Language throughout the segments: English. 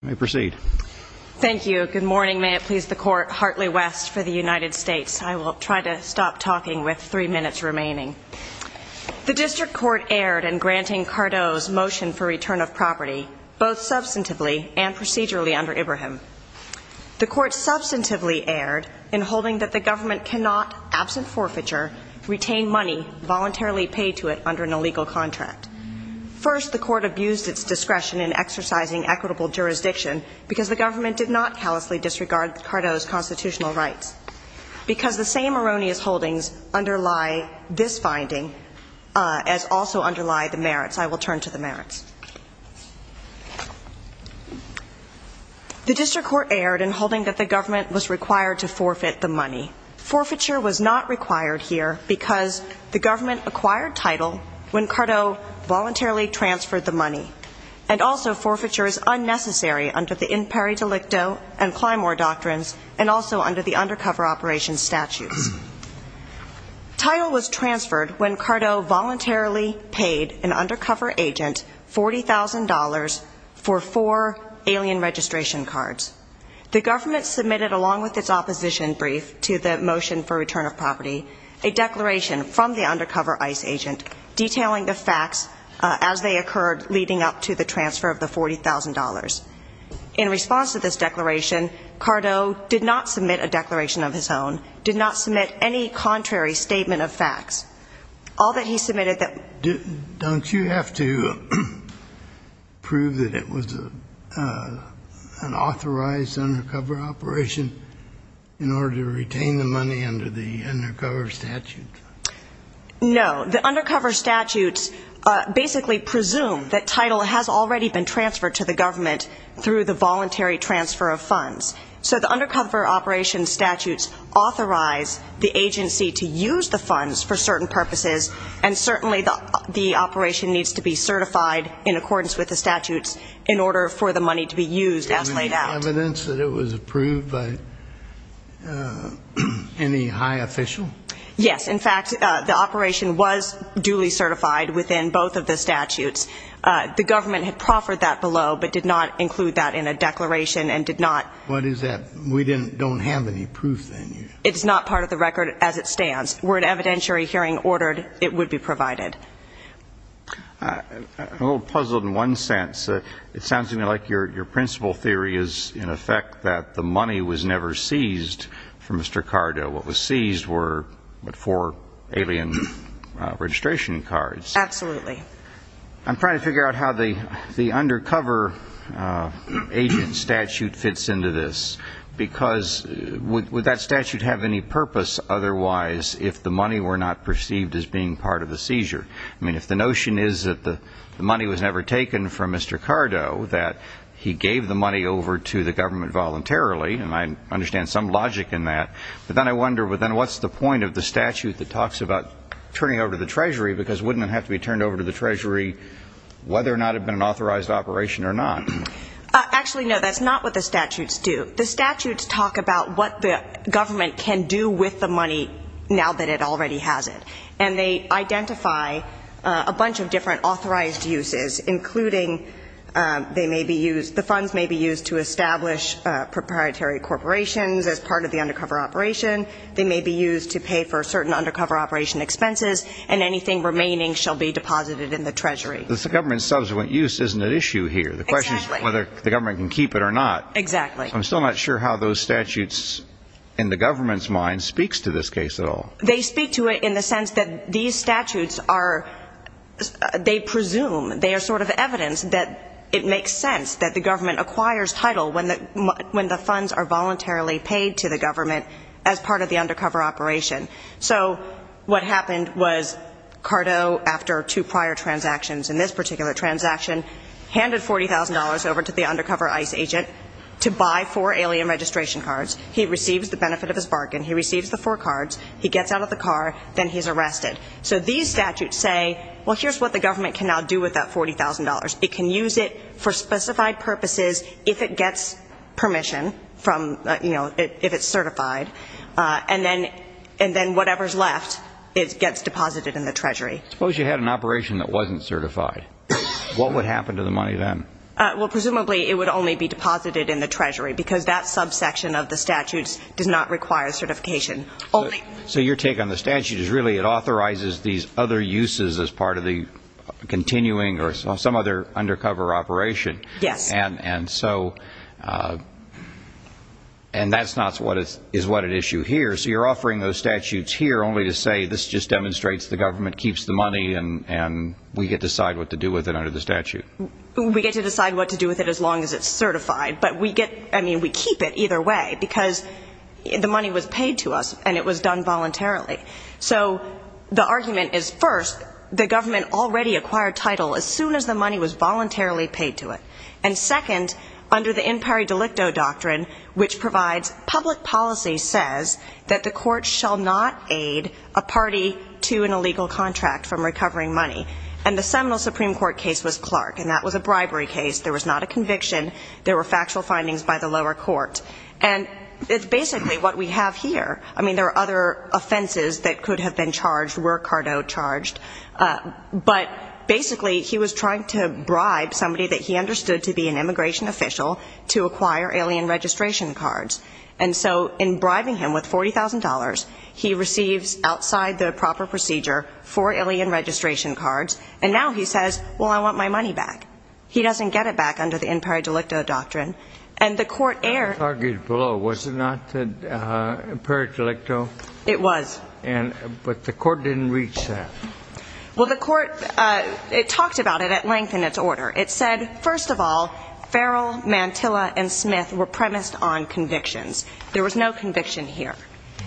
The District Court erred in granting Cardo's motion for return of property, both substantively and procedurally, under Ibrahim. The Court substantively erred in holding that the government cannot, absent forfeiture, retain money voluntarily paid to it under an illegal contract. First, the Court abused its discretion in exercising equitable jurisdiction because the government did not callously disregard Cardo's constitutional rights. Because the same erroneous holdings underlie this finding as also underlie the merits. I will turn to the merits. The District Court erred in holding that the government was required to forfeit the money. Forfeiture was not required here because the government acquired title when Cardo voluntarily transferred the money. And also forfeiture is unnecessary under the Imperi Delicto and Climor Doctrines and also under the Undercover Operations Statutes. Title was transferred when Cardo voluntarily paid an undercover agent $40,000 for four alien registration cards. The government submitted, along with its opposition brief to the motion for return of property, a declaration from the undercover ICE agent detailing the facts as they occurred leading up to the transfer of the $40,000. In response to this declaration, Cardo did not submit a declaration of his own, did not submit any contrary statement of facts. All that he submitted that Don't you have to prove that it was an authorized undercover operation in order to retain the money under the Undercover Statutes? No. The Undercover Statutes basically presume that title has already been transferred to the government through the voluntary transfer of funds. So the Undercover Operations Statutes authorize the agency to use the funds for certain purposes, and certainly the operation needs to be certified in accordance with the statutes in order for the money to be used as laid out. Do you have any evidence that it was approved by any high official? Yes. In fact, the operation was duly certified within both of the statutes. The government had proffered that below, but did not include that in a declaration and did not What is that? We don't have any proof then? It's not part of the record as it stands. Were an evidentiary hearing ordered, it would be provided. I'm a little puzzled in one sense. It sounds to me like your principle theory is in effect that the money was never seized from Mr. Cardo. What was seized were four alien registration cards. Absolutely. I'm trying to figure out how the Undercover Agent Statute fits into this, because would that statute have any purpose otherwise if the money were not perceived as being part of the seizure? I mean, if the notion is that the money was never taken from Mr. Cardo, that he gave the money over to the government voluntarily, and I understand some logic in that, but then I wonder, what's the point of the statute that talks about turning over to the Treasury, because wouldn't it have to be turned over to the Treasury whether or not it had been an authorized operation or not? Actually no, that's not what the statutes do. The statutes talk about what the government can do with the money now that it already has it, and they identify a bunch of different authorized uses, including they may be used, the funds may be used to establish proprietary corporations as part of the undercover operation, they may be used to pay for certain undercover operation expenses, and anything remaining shall be deposited in the Treasury. The government's subsequent use isn't at issue here. The question is whether the government can keep it or not. Exactly. I'm still not sure how those statutes in the government's mind speaks to this case at all. They speak to it in the sense that these statutes are, they presume, they are sort of evidence that it makes sense that the government acquires title when the funds are voluntarily paid to the government as part of the undercover operation. So what happened was Cardo, after two prior transactions in this particular transaction, handed $40,000 over to the undercover ICE agent to buy four alien registration cards. He receives the benefit of his bargain. He receives the four cards. He gets out of the car. Then he's arrested. So these statutes say, well, here's what the government can now do with that $40,000. It can use it for specified purposes if it gets permission from, you know, if it's certified. And then whatever's left gets deposited in the Treasury. Suppose you had an operation that wasn't certified. What would happen to the money then? Well, presumably it would only be deposited in the Treasury because that subsection of the statutes does not require certification. So your take on the statute is really it authorizes these other uses as part of the continuing or some other undercover operation. Yes. And so, and that's not what is what at issue here. So you're offering those statutes here only to say this just demonstrates the government keeps the money and we get to decide what to do with it under the statute. We get to decide what to do with it as long as it's certified. But we get, I mean, we keep it either way because the money was paid to us and it was done voluntarily. So the argument is first, the government already acquired title as soon as the money was voluntarily paid to it. And second, under the in pari delicto doctrine, which provides public policy says that the court shall not aid a party to an illegal contract from recovering money. And the seminal Supreme Court case was Clark and that was a bribery case. There was not a conviction. There were factual findings by the lower court. And it's basically what we have here. I mean, there are other offenses that could have been charged were Cardo charged. But basically he was trying to bribe somebody that he understood to be an immigration official to acquire alien registration cards. And so in bribing him with $40,000, he receives outside the proper procedure for alien registration cards. And now he says, well, I want my money back. He doesn't get it back under the in pari delicto doctrine. And the court air argued below, was it not that a pari delicto? It was. And, but the court didn't reach that. Well, the court, uh, it talked about it at length in its order. It said, first of all, Farrell, Mantilla and Smith were premised on convictions. There was no conviction here.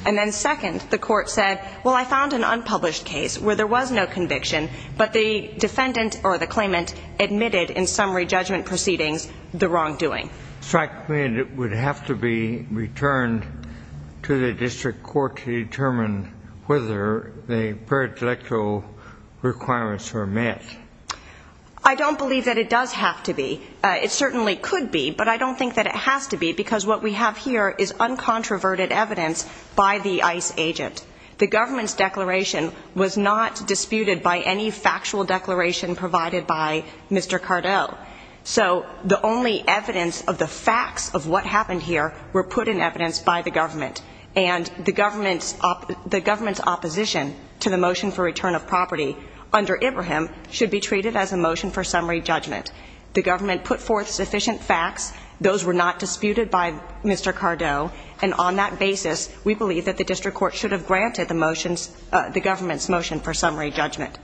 And then second, the court said, well, I found an unpublished case where there was no conviction, but the defendant or the claimant admitted in summary judgment proceedings, the wrong doing. So I mean, it would have to be returned to the district court to determine whether the pari delicto requirements are met. I don't believe that it does have to be. Uh, it certainly could be, but I don't think that has to be because what we have here is uncontroverted evidence by the ICE agent. The government's declaration was not disputed by any factual declaration provided by Mr. Cardell. So the only evidence of the facts of what happened here were put in evidence by the government and the government's, the government's opposition to the motion for return of property under Ibrahim should be treated as a motion for summary judgment. The government put forth sufficient facts. Those were not disputed by Mr. Cardell. And on that basis, we believe that the district court should have granted the motions, uh, the government's motion for summary judgment.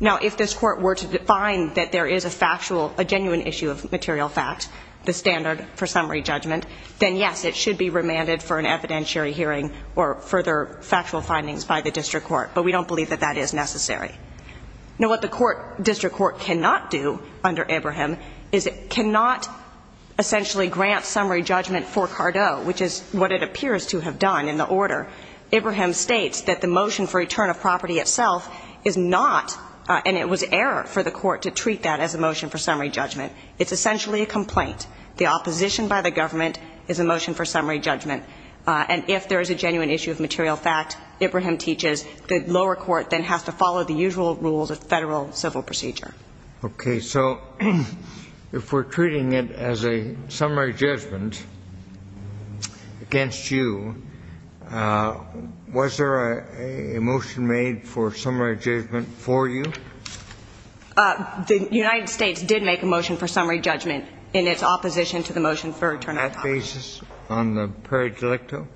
Now if this court were to define that there is a factual, a genuine issue of material fact, the standard for summary judgment, then yes, it should be remanded for an evidentiary hearing or further factual findings by the district court. But we don't believe that that is necessary. Now what the court, district court cannot do under Ibrahim is it cannot essentially grant summary judgment for Cardell, which is what it appears to have done in the order. Ibrahim states that the motion for return of property itself is not, uh, and it was error for the court to treat that as a motion for summary judgment. It's essentially a complaint. The opposition by the government is a motion for summary judgment. Uh, and if there is a genuine issue of material fact, Ibrahim teaches the lower court then has to follow the usual rules of federal civil procedure. Okay. So if we're treating it as a summary judgment against you, uh, was there a motion made for summary judgment for you? Uh, the United States did make a motion for summary judgment in its opposition to the motion for return of property. On that basis, on the prairie delicto?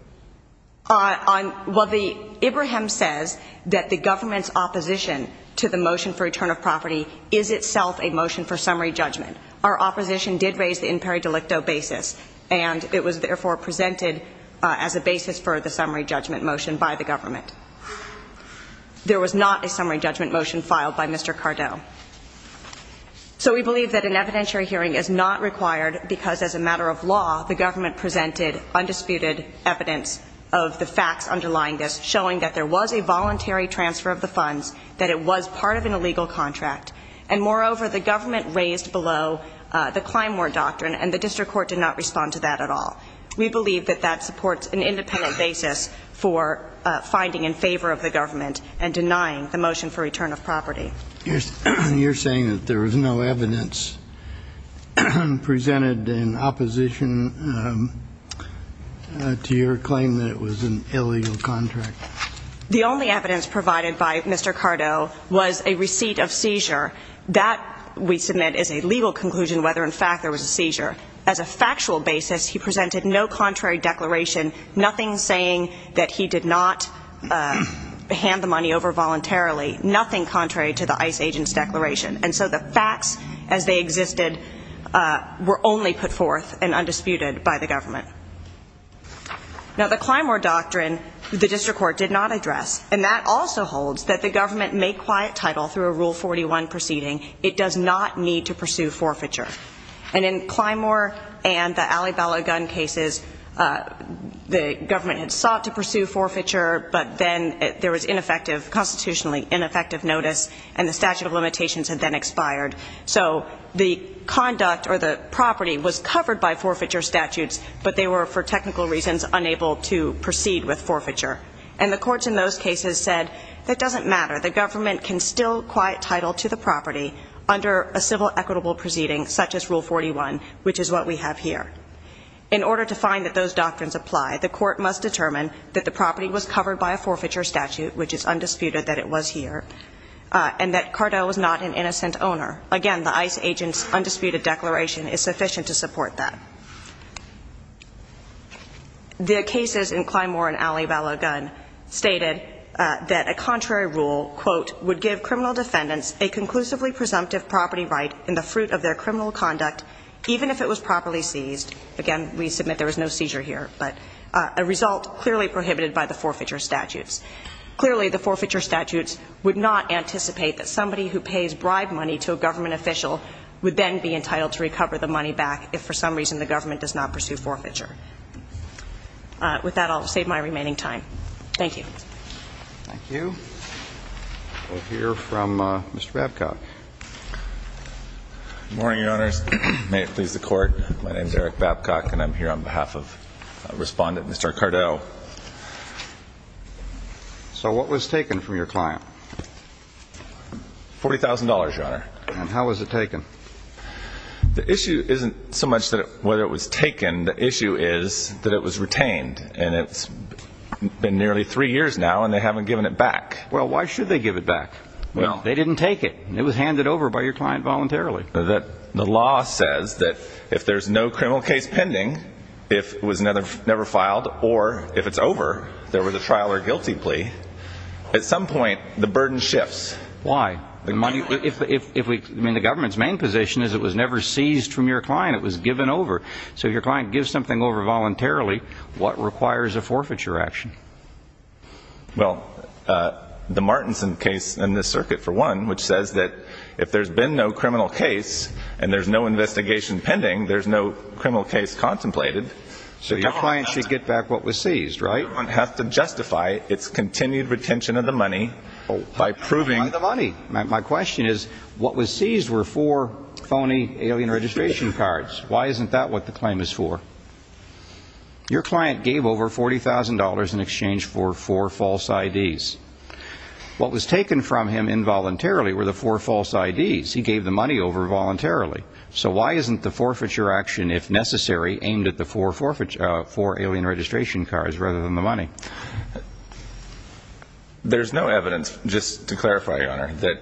Uh, on, well, the Ibrahim says that the government's opposition to the motion for return of property is itself a motion for summary judgment. Our opposition did raise the in prairie delicto basis and it was therefore presented, uh, as a basis for the summary judgment motion by the government. There was not a summary judgment motion filed by Mr. Cardell. So we believe that an evidentiary hearing is not required because as a matter of law, the government presented undisputed evidence of the facts underlying this, showing that there was a voluntary transfer of the funds, that it was part of an illegal contract. And moreover, the government raised below, uh, the Climeware doctrine and the district court did not respond to that at all. We believe that that supports an independent basis for, uh, finding in favor of the government and denying the motion for return of property. You're saying that there was no evidence presented in opposition, um, uh, to your claim that it was an illegal contract. The only evidence provided by Mr. Cardell was a receipt of seizure. That we submit is a legal conclusion whether in fact there was a seizure. As a factual basis, he presented no contrary declaration, nothing saying that he did not, uh, hand the money over voluntarily, nothing contrary to the ICE agent's declaration. And so the facts as they existed, uh, were only put forth and undisputed by the government. Now the Climeware doctrine, the district court did not address and that also holds that the government may quiet title through a Rule 41 proceeding. It does not need to pursue forfeiture. And in Climeware and the Alibaba gun cases, uh, the government had sought to get ineffective notice and the statute of limitations had then expired. So the conduct or the property was covered by forfeiture statutes, but they were for technical reasons unable to proceed with forfeiture. And the courts in those cases said, it doesn't matter. The government can still quiet title to the property under a civil equitable proceeding such as Rule 41, which is what we have here. In order to find that those doctrines apply, the court must determine that the property was covered by a forfeiture statute, which is undisputed that it was here, uh, and that Cardo was not an innocent owner. Again, the ICE agent's undisputed declaration is sufficient to support that. The cases in Climeware and Alibaba gun stated, uh, that a contrary rule, quote, would give criminal defendants a conclusively presumptive property right in the fruit of their criminal conduct, even if it was properly seized. Again, we submit there was no seizure here, but, uh, a result clearly prohibited by the forfeiture statutes. Clearly, the forfeiture statutes would not anticipate that somebody who pays bribe money to a government official would then be entitled to recover the money back if for some reason the government does not pursue forfeiture. Uh, with that, I'll save my remaining time. Thank you. Thank you. We'll hear from, uh, Mr. Babcock. Good morning, Your Honors. May it please the Court. My name is Eric Babcock, and I'm here on behalf of, uh, Respondent Mr. Cardo. So what was taken from your client? Forty thousand dollars, Your Honor. And how was it taken? The issue isn't so much that it, whether it was taken. The issue is that it was retained, and it's been nearly three years now, and they haven't given it back. Well, why should they give it back? Well. They didn't take it. It was handed over by your client voluntarily. The law says that if there's no criminal case pending, if it was never filed, or if it's over, there was a trial or guilty plea, at some point, the burden shifts. Why? The money, if we, I mean, the government's main position is it was never seized from your client. It was given over. So if your client gives something over voluntarily, what requires a forfeiture action? Well, uh, the Martinson case in this circuit, for one, which says that if there's been no criminal case and there's no investigation pending, there's no criminal case contemplated. So your client should get back what was seized, right? The government has to justify its continued retention of the money by proving. By the money. My question is, what was seized were four phony alien registration cards. Why isn't that what the claim is for? Your client gave over $40,000 in exchange for four false IDs. What was taken from him involuntarily were the four false IDs. He gave the money over voluntarily. So why isn't the forfeiture action, if necessary, aimed at the four alien registration cards rather than the money? There's no evidence, just to clarify, Your Honor, that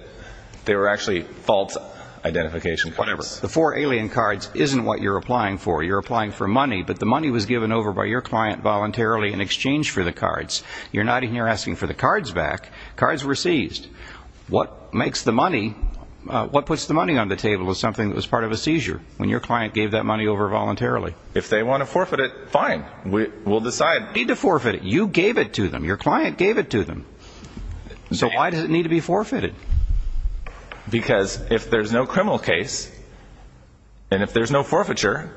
they were actually false identification cards. Whatever. The four alien cards isn't what you're applying for. You're applying for money, but the money was given over by your client voluntarily in exchange for the cards. You're not even asking for the cards back. Cards were seized. What makes the money, what puts the money on the table is something that was part of a seizure when your client gave that money over voluntarily. If they want to forfeit it, fine. We'll decide. Need to forfeit it. You gave it to them. Your client gave it to them. So why does it need to be forfeited? Because if there's no criminal case and if there's no forfeiture,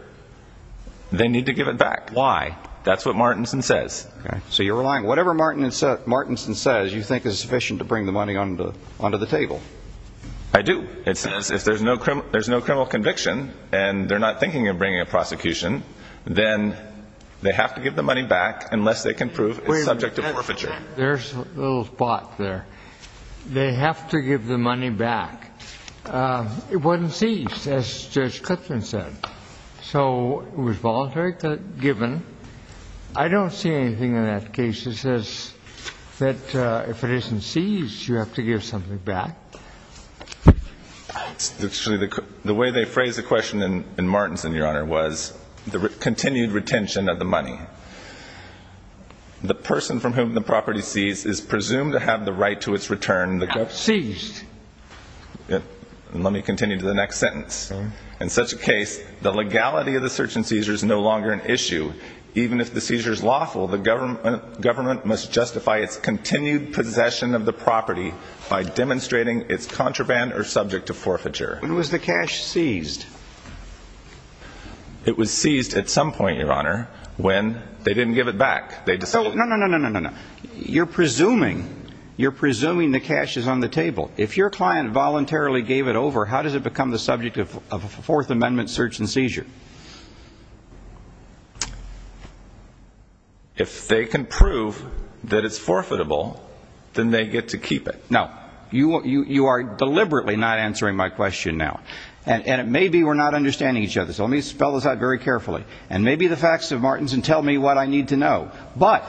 they need to give it back. Why? That's what Martinson says. Okay. So you're relying, whatever Martinson says, you think is sufficient to bring the money onto the table? I do. It says if there's no criminal conviction and they're not thinking of bringing a prosecution, then they have to give the money back unless they can prove it's subject to forfeiture. There's a little spot there. They have to give the money back. It wasn't seized, as voluntary given. I don't see anything in that case that says that if it isn't seized, you have to give something back. The way they phrased the question in Martinson, Your Honor, was the continued retention of the money. The person from whom the property is seized is presumed to have the right to its return. Seized. Let me continue to the next sentence. In such a case, the legality of the search and seizure is no longer an issue. Even if the seizure is lawful, the government must justify its continued possession of the property by demonstrating it's contraband or subject to forfeiture. When was the cash seized? It was seized at some point, Your Honor, when they didn't give it back. No, no, no, no, no, no, no. You're presuming, you're presuming the cash is on the table. If your client voluntarily gave it over, how does it become the subject of a Fourth Amendment search and seizure? If they can prove that it's forfeitable, then they get to keep it. No. You are deliberately not answering my question now. And it may be we're not understanding each other. So let me spell this out very carefully. And maybe the facts of Martinson tell me what I need to know. But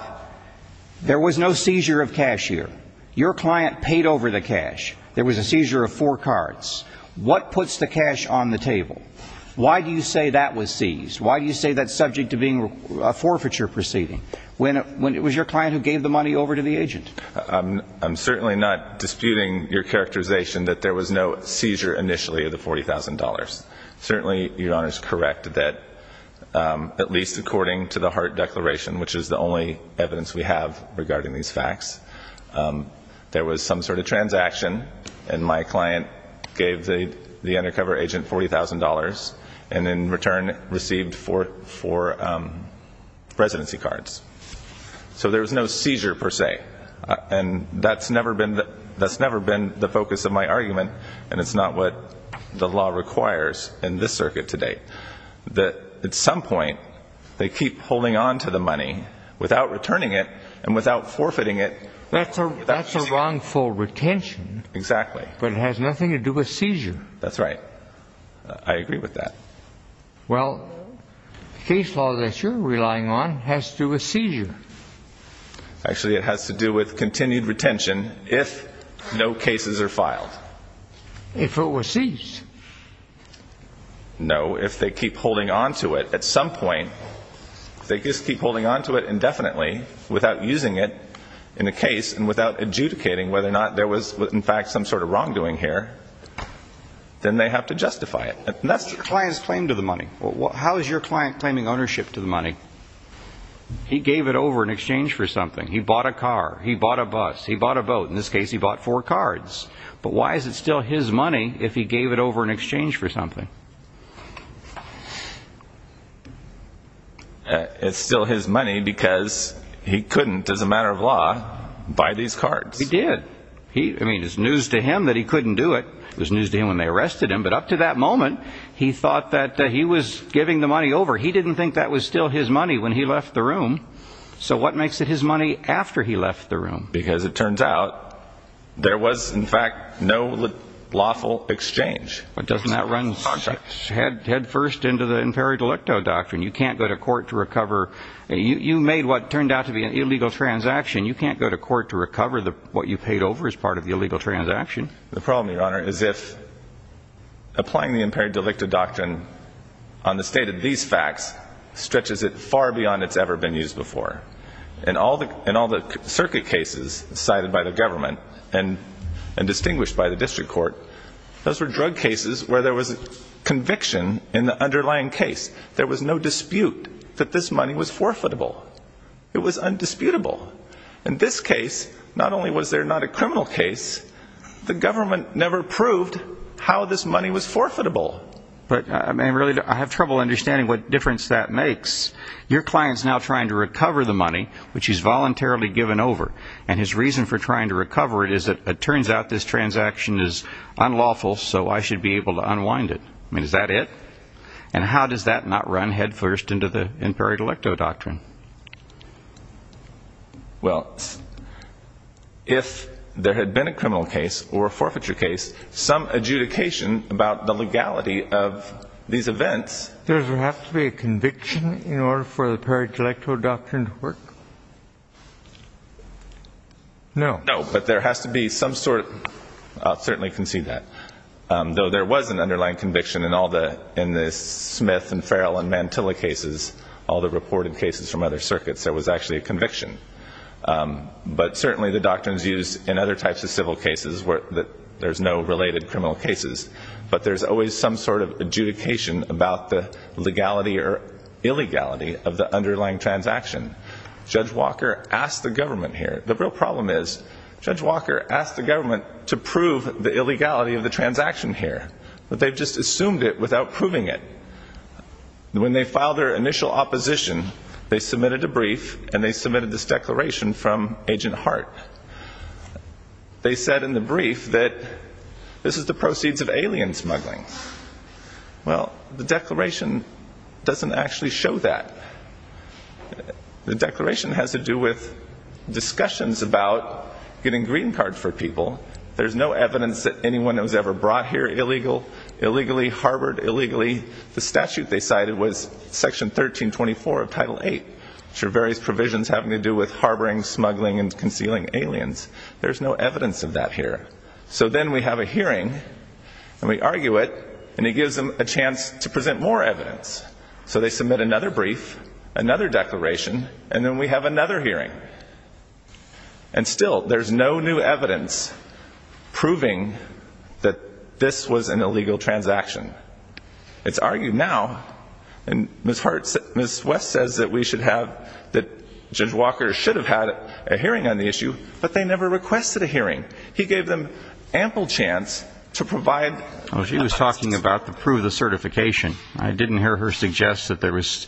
there was no seizure of cash here. Your client paid over the cash. There was a seizure of four cards. What puts the cash on the table? Why do you say that was seized? Why do you say that's subject to being a forfeiture proceeding? When it was your client who gave the money over to the agent? I'm certainly not disputing your characterization that there was no seizure initially of the $40,000. Certainly, Your Honor is correct that at least according to the Hart Declaration, which is the only evidence we have regarding these facts, there was some sort of transaction. And my client gave the undercover agent $40,000 and in return received four residency cards. So there was no seizure, per se. And that's never been the focus of my argument. And it's not what the law requires in this circuit today, that at some point they keep holding on to the money without returning it and without forfeiting it. That's a wrongful retention. Exactly. But it has nothing to do with seizure. That's right. I agree with that. Well, the case law that you're relying on has to do with seizure. Actually it has to do with continued retention if no cases are filed. If it was seized. No. If they keep holding on to it, at some point, if they just keep holding on to it indefinitely without using it in a case and without adjudicating whether or not there was in fact some sort of wrongdoing here, then they have to justify it. That's the client's claim to the money. How is your client claiming ownership to the money? He gave it over in exchange for something. He bought a car. He bought a bus. He bought a boat. In this case, he bought four cards. But why is it still his money if he gave it over in exchange for something? It's still his money because he couldn't, as a matter of law, buy these cards. He did. I mean, it's news to him that he couldn't do it. It was news to him when they arrested him. But up to that moment, he thought that he was giving the money over. He didn't think that was still his money when he left the room. So what makes it his money after he left the room? Because it turns out there was, in fact, no lawful exchange. But doesn't that run head first into the imperi delicto doctrine? You can't go to court to recover. You made what turned out to be an illegal transaction. You can't go to court to recover what you paid over as part of the illegal transaction. The problem, Your Honor, is if applying the imperi delicto doctrine on the state of these In all the circuit cases cited by the government and distinguished by the district court, those were drug cases where there was conviction in the underlying case. There was no dispute that this money was forfeitable. It was undisputable. In this case, not only was there not a criminal case, the government never proved how this money was forfeitable. But I mean, really, I have trouble understanding what difference that makes. Your client's now trying to recover the money, which he's voluntarily given over. And his reason for trying to recover it is that it turns out this transaction is unlawful, so I should be able to unwind it. I mean, is that it? And how does that not run head first into the imperi delicto doctrine? Well, if there had been a criminal case or a forfeiture case, some adjudication about the legality of these events... Does there have to be a conviction in order for the imperi delicto doctrine to work? No. No, but there has to be some sort of... I'll certainly concede that. Though there was an underlying conviction in all the Smith and Farrell and Mantilla cases, all the reported cases from other circuits, there was actually a conviction. But certainly the doctrines used in other types of civil cases were that there's no related criminal cases. But there's always some sort of adjudication about the legality or illegality of the underlying transaction. Judge Walker asked the government here... The real problem is Judge Walker asked the government to prove the illegality of the transaction here, but they've just assumed it without proving it. When they filed their initial opposition, they submitted a brief and they submitted this declaration from Agent Hart. They said in the brief that this is the proceeds of alien smuggling. Well, the declaration doesn't actually show that. The declaration has to do with discussions about getting green cards for people. There's no evidence that anyone that was ever brought here illegally, harbored illegally. The statute they cited was Section 1324 of Title VIII, which are various provisions having to do with harboring, smuggling, and concealing aliens. There's no evidence of that here. So then we have a hearing, and we argue it, and it gives them a chance to present more evidence. So they submit another brief, another declaration, and then we have another hearing. And still, there's no new evidence proving that this was an illegal transaction. It's argued now, and Ms. Hart... Ms. West says that we should have... that Judge Walker should have had a hearing on the issue, but they never requested a hearing. He gave them ample chance to provide... Well, she was talking about the proof of certification. I didn't hear her suggest that there was...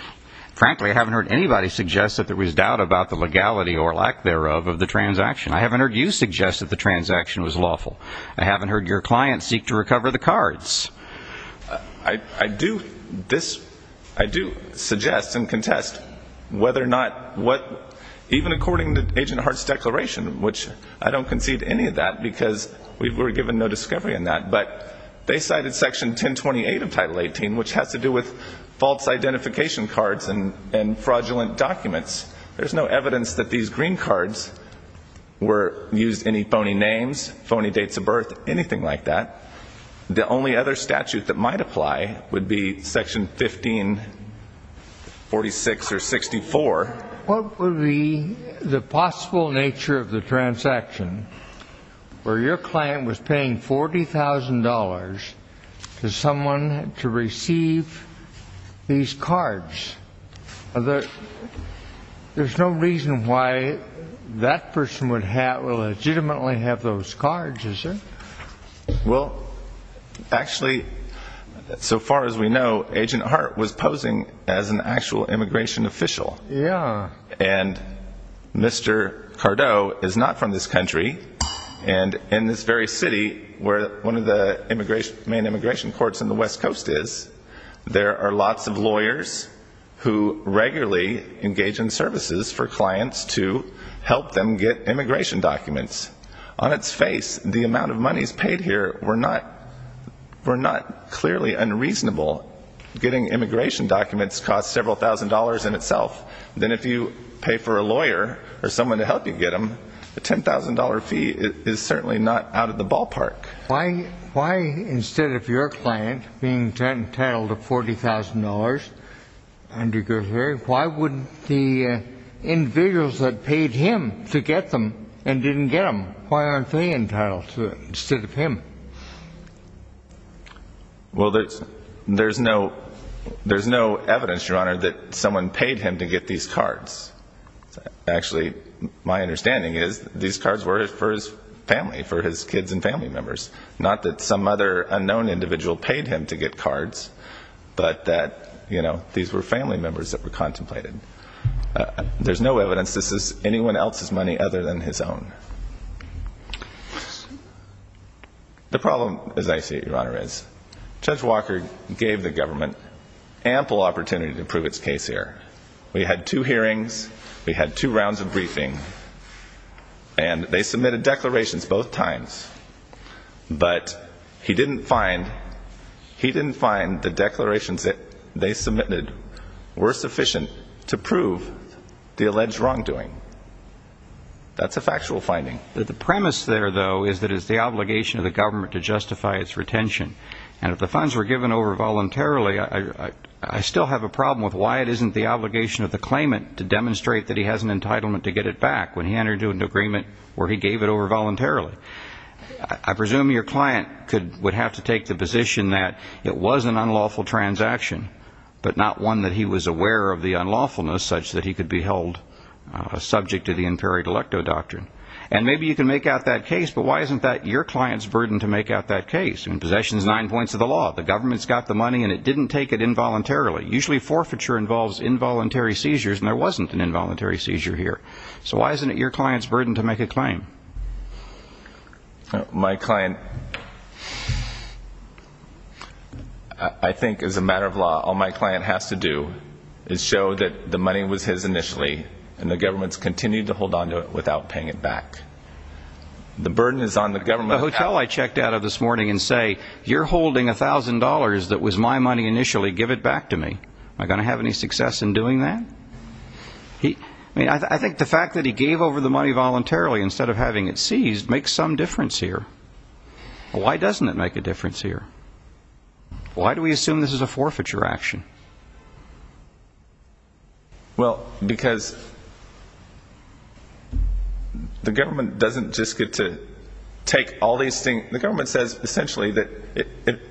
Frankly, I haven't heard anybody suggest that there was doubt about the legality or lack thereof of the transaction. I haven't heard you suggest that the transaction was lawful. I do suggest and contest whether or not what... Even according to Agent Hart's declaration, which I don't concede any of that, because we were given no discovery on that, but they cited Section 1028 of Title XVIII, which has to do with false identification cards and fraudulent documents. There's no evidence that these green cards used any phony names, phony dates of birth, anything like that. The only other statute that might apply would be Section 1546 or 64. What would be the possible nature of the transaction where your client was paying $40,000 to someone to receive these cards? There's no reason why that person would have... would legitimately have those cards, is there? Well, actually, so far as we know, Agent Hart was posing as an actual immigration official. And Mr. Cardo is not from this country. And in this very city where one of the main immigration courts in the West Coast is, there are lots of lawyers who regularly engage in services for clients to help them get immigration documents. On its face, the amount of monies paid here were not clearly unreasonable. Getting immigration documents costs several thousand dollars in itself. Then if you pay for a lawyer or someone to help you get them, a $10,000 fee is certainly not out of the ballpark. Why instead of your client being entitled to $40,000 under your theory, why wouldn't the individuals that paid him to get them and didn't get them, why aren't they entitled to it instead of him? Well, there's no evidence, Your Honor, that someone paid him to get these cards. Actually, my understanding is these cards were for his family, for his kids and family members. Not that some other unknown individual paid him to get cards, but that these were family cards. There's no evidence this is anyone else's money other than his own. The problem, as I see it, Your Honor, is Judge Walker gave the government ample opportunity to prove its case here. We had two hearings. We had two rounds of briefing. And they submitted declarations both times. But he didn't find the declarations that they submitted were sufficient to prove the alleged wrongdoing. That's a factual finding. The premise there, though, is that it's the obligation of the government to justify its retention. And if the funds were given over voluntarily, I still have a problem with why it isn't the obligation of the claimant to demonstrate that he has an entitlement to get it back when he entered into an agreement where he gave it over voluntarily. I presume your client would have to take the position that it was an unlawful transaction, but not one that he was aware of the unlawfulness such that he could be held subject to the Inferior Delecto Doctrine. And maybe you can make out that case, but why isn't that your client's burden to make out that case? Possession is nine points of the law. The government's got the money, and it didn't take it involuntarily. Usually forfeiture involves involuntary seizures, and there wasn't an involuntary seizure here. So why isn't it your client's burden to make a claim? My client, I think as a matter of law, all my client has to do is show that the money was his initially, and the government's continued to hold on to it without paying it back. The burden is on the government. The hotel I checked out of this morning and say, you're holding $1,000 that was my money initially, give it back to me. Am I going to have any success in doing that? I think the fact that he gave over the money voluntarily instead of having it seized makes some difference here. Why doesn't it make a difference here? Why do we assume this is a forfeiture action? Well because the government doesn't just get to take all these things. The government says essentially that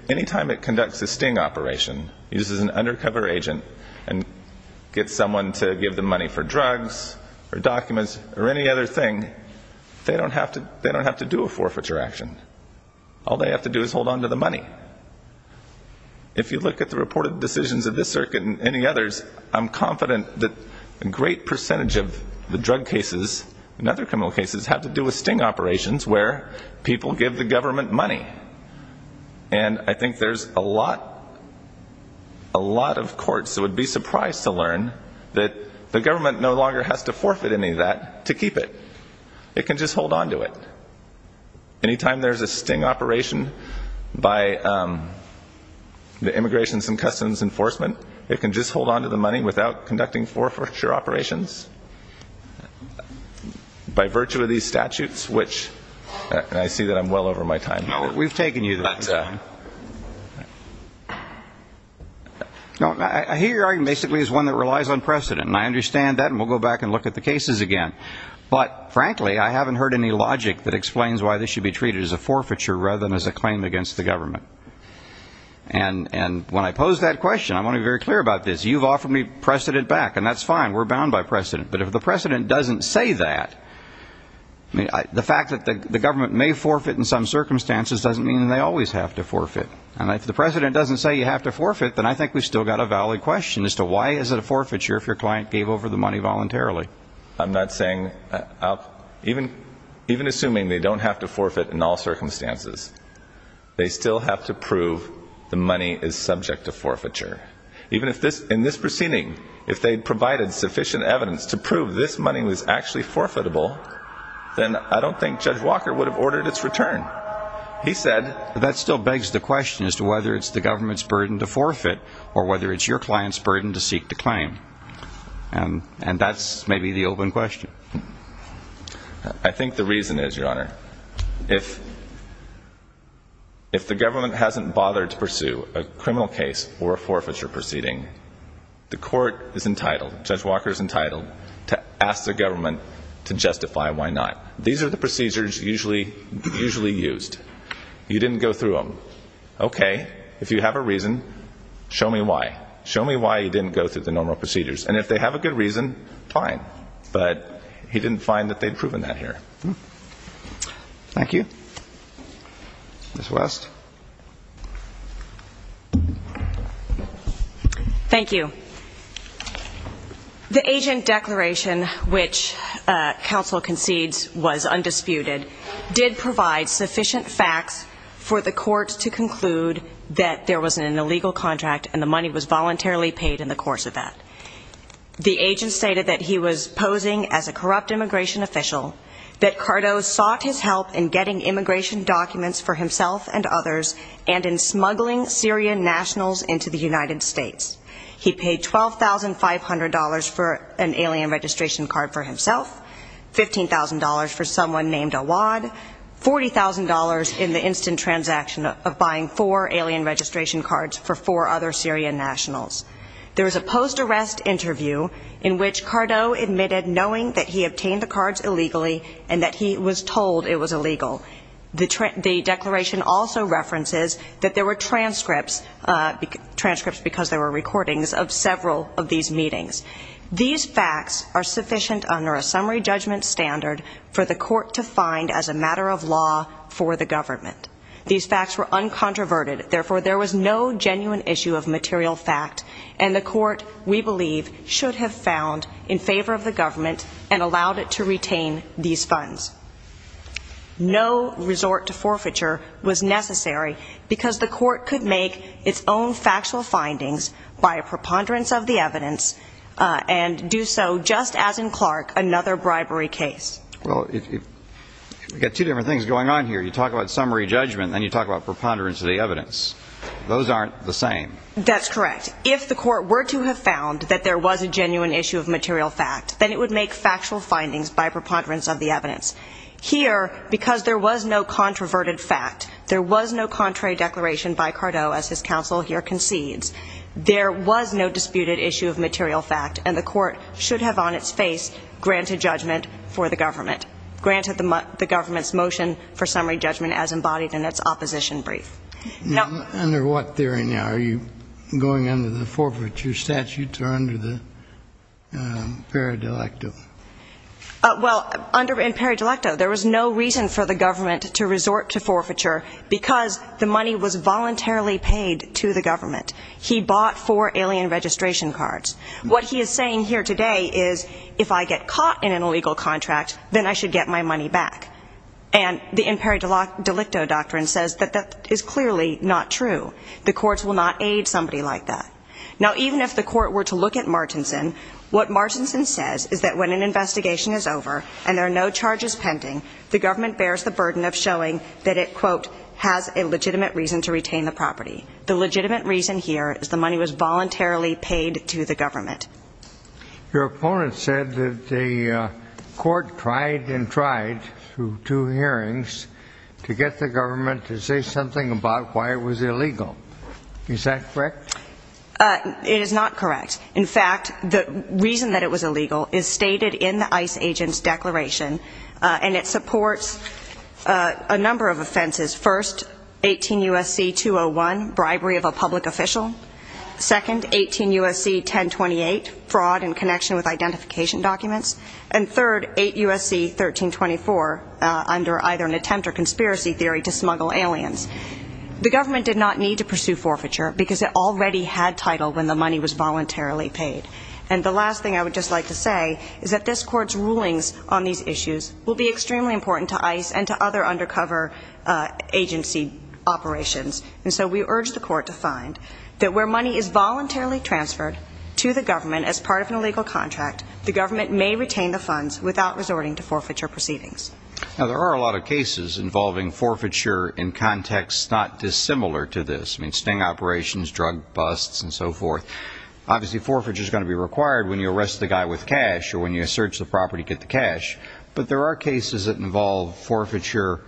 any time it conducts a sting operation, uses an undercover agent, and gets someone to give them money for drugs or documents or any other thing, they don't have to do a forfeiture action. All they have to do is hold on to the money. If you look at the reported decisions of this circuit and any others, I'm confident that a great percentage of the drug cases and other criminal cases have to do with sting operations where people give the government money. And I think there's a lot of courts that would be surprised to learn that the government no longer has to forfeit any of that to keep it. It can just hold on to it. Any time there's a sting operation by the Immigrations and Customs Enforcement, it can just hold on to the money without conducting forfeiture operations. By virtue of these statutes which, and I see that I'm well over my time. We've taken you that time. I hear your argument basically as one that relies on precedent. I understand that and we'll go back and look at the cases again. But frankly, I haven't heard any logic that explains why this should be treated as a forfeiture rather than as a claim against the government. And when I pose that question, I want to be very clear about this. You've offered me precedent back and that's fine. We're bound by precedent. But if the precedent doesn't say that, the fact that the government may forfeit in some circumstances doesn't mean that they always have to forfeit. And if the precedent doesn't say you have to forfeit, then I think we've still got a valid question as to why is it a forfeiture if your client gave over the money voluntarily. I'm not saying, even assuming they don't have to forfeit in all circumstances, they still have to prove the money is subject to forfeiture. Even if this, in this proceeding, if they'd provided sufficient evidence to prove this money was actually forfeitable, then I don't think Judge Walker would have ordered its return. He said, that still begs the question as to whether it's the government's burden to forfeit or whether it's your client's burden to seek the claim. And that's maybe the open question. I think the reason is, Your Honor, if the government hasn't bothered to pursue a criminal case or a forfeiture proceeding, the court is entitled, Judge Walker is entitled, to ask the government to justify why not. These are the procedures usually used. You didn't go through them. Okay. If you have a reason, show me why. Show me why you didn't go through the normal procedures. And if they have a good reason, fine. But he didn't find that they'd proven that here. Thank you. Ms. West. Thank you. The agent declaration, which counsel concedes was undisputed, did provide sufficient facts for the court to conclude that there was an illegal contract and the money was voluntarily paid in the course of that. The agent stated that he was posing as a corrupt immigration official, that Cardo sought his help in getting immigration documents for himself and others, and in smuggling Syrian nationals into the United States. He paid $12,500 for an alien registration card for himself, $15,000 for someone named Awad, $40,000 in the instant transaction of buying four alien registration cards for four other Syrian nationals. There was a post-arrest interview in which Cardo admitted knowing that he obtained the money. The declaration also references that there were transcripts, transcripts because there were recordings, of several of these meetings. These facts are sufficient under a summary judgment standard for the court to find as a matter of law for the government. These facts were uncontroverted. Therefore, there was no genuine issue of material fact, and the court, we believe, should have found in favor of the government and allowed it to retain these funds. No resort to forfeiture was necessary because the court could make its own factual findings by a preponderance of the evidence, and do so just as in Clark, another bribery case. Well, if you've got two different things going on here, you talk about summary judgment, then you talk about preponderance of the evidence. Those aren't the same. That's correct. If the court were to have found that there was a genuine issue of material fact, then it would make factual findings by preponderance of the evidence. Here, because there was no controverted fact, there was no contrary declaration by Cardo, as his counsel here concedes, there was no disputed issue of material fact, and the court should have on its face granted judgment for the government, granted the government's motion for summary judgment as embodied in its opposition brief. Under what theory now? Are you going under the forfeiture statutes or under the imperi delicto? Well, under imperi delicto, there was no reason for the government to resort to forfeiture because the money was voluntarily paid to the government. He bought four alien registration cards. What he is saying here today is, if I get caught in an illegal contract, then I should get my money back. And the imperi delicto doctrine says that that is clearly not true. The courts will not aid somebody like that. Now, even if the court were to look at Martinson, what Martinson says is that when an investigation is over and there are no charges pending, the government bears the burden of showing that it, quote, has a legitimate reason to retain the property. The legitimate reason here is the money was voluntarily paid to the government. Your opponent said that the court tried and tried through two hearings to get the government to say something about why it was illegal. Is that correct? It is not correct. In fact, the reason that it was illegal is stated in the ICE agent's declaration, and it supports a number of offenses. First, 18 U.S.C. 201, bribery of a public official. Second, 18 U.S.C. 1028, fraud in connection with identification documents. And third, 8 U.S.C. 1324, under either an attempt or conspiracy theory to smuggle aliens. The government did not need to pursue forfeiture because it already had title when the money was voluntarily paid. And the last thing I would just like to say is that this court's rulings on these issues will be extremely important to ICE and to other undercover agency operations. And so we urge the court to find that where money is voluntarily transferred to the government as part of an illegal contract, the government may retain the funds without resorting to forfeiture proceedings. Now, there are a lot of cases involving forfeiture in contexts not dissimilar to this. I mean, sting operations, drug busts, and so forth. Obviously, forfeiture is going to be required when you arrest the guy with cash or when you search the property to get the cash. But there are cases that involve forfeiture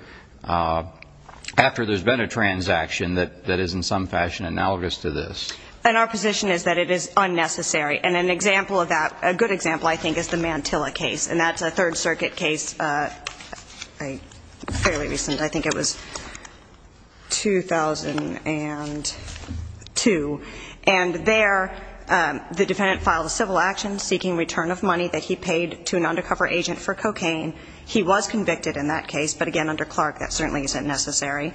after there's been a transaction that is in some fashion analogous to this. And our position is that it is unnecessary. And an example of that, a good example, I think, is the Mantilla case. And that's a Third Circuit case fairly recent. I think it was 2002. And there, the defendant filed a civil action seeking return of money that he paid to an undercover agent for cocaine. He was convicted in that case. But again, under Clark, that certainly isn't necessary.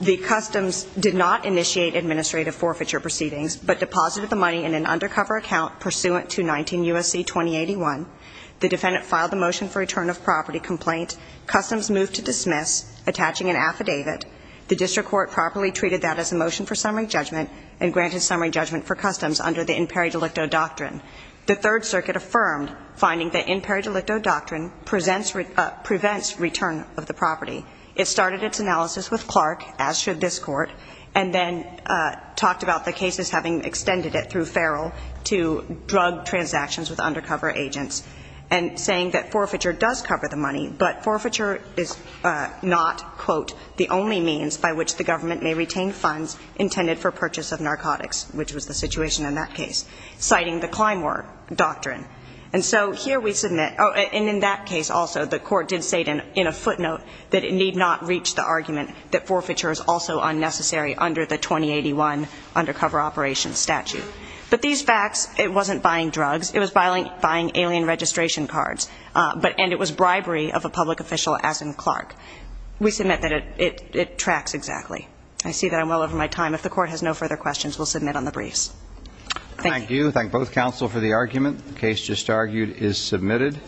The customs did not initiate administrative forfeiture proceedings, but deposited the money in an undercover account pursuant to 19 U.S.C. 2081. The defendant filed a motion for return of property complaint. Customs moved to dismiss, attaching an affidavit. The district court properly treated that as a motion for summary judgment and granted summary judgment for customs under the imperi delicto doctrine. The Third Circuit affirmed finding that imperi delicto doctrine prevents return of the property. It started its analysis with Clark, as should this Court, and then talked about the cases having extended it through Farrell to drug transactions with undercover agents and saying that forfeiture does cover the money, but forfeiture is not, quote, the only means by which the government may retain funds intended for purchase of narcotics, which was the situation in that case, citing the Climor doctrine. And so here we submit, and in that case also, the Court did state in a footnote that it need not reach the argument that forfeiture is also unnecessary under the 2081 undercover operations statute. But these facts, it wasn't buying drugs, it was buying alien registration cards, and it was bribery of a public official, as in Clark. We submit that it tracks exactly. I see that I'm well over my time. If the Court has no further questions, we'll submit on the briefs. Thank you. Thank you. Thank both counsel for the argument. The case just argued is submitted.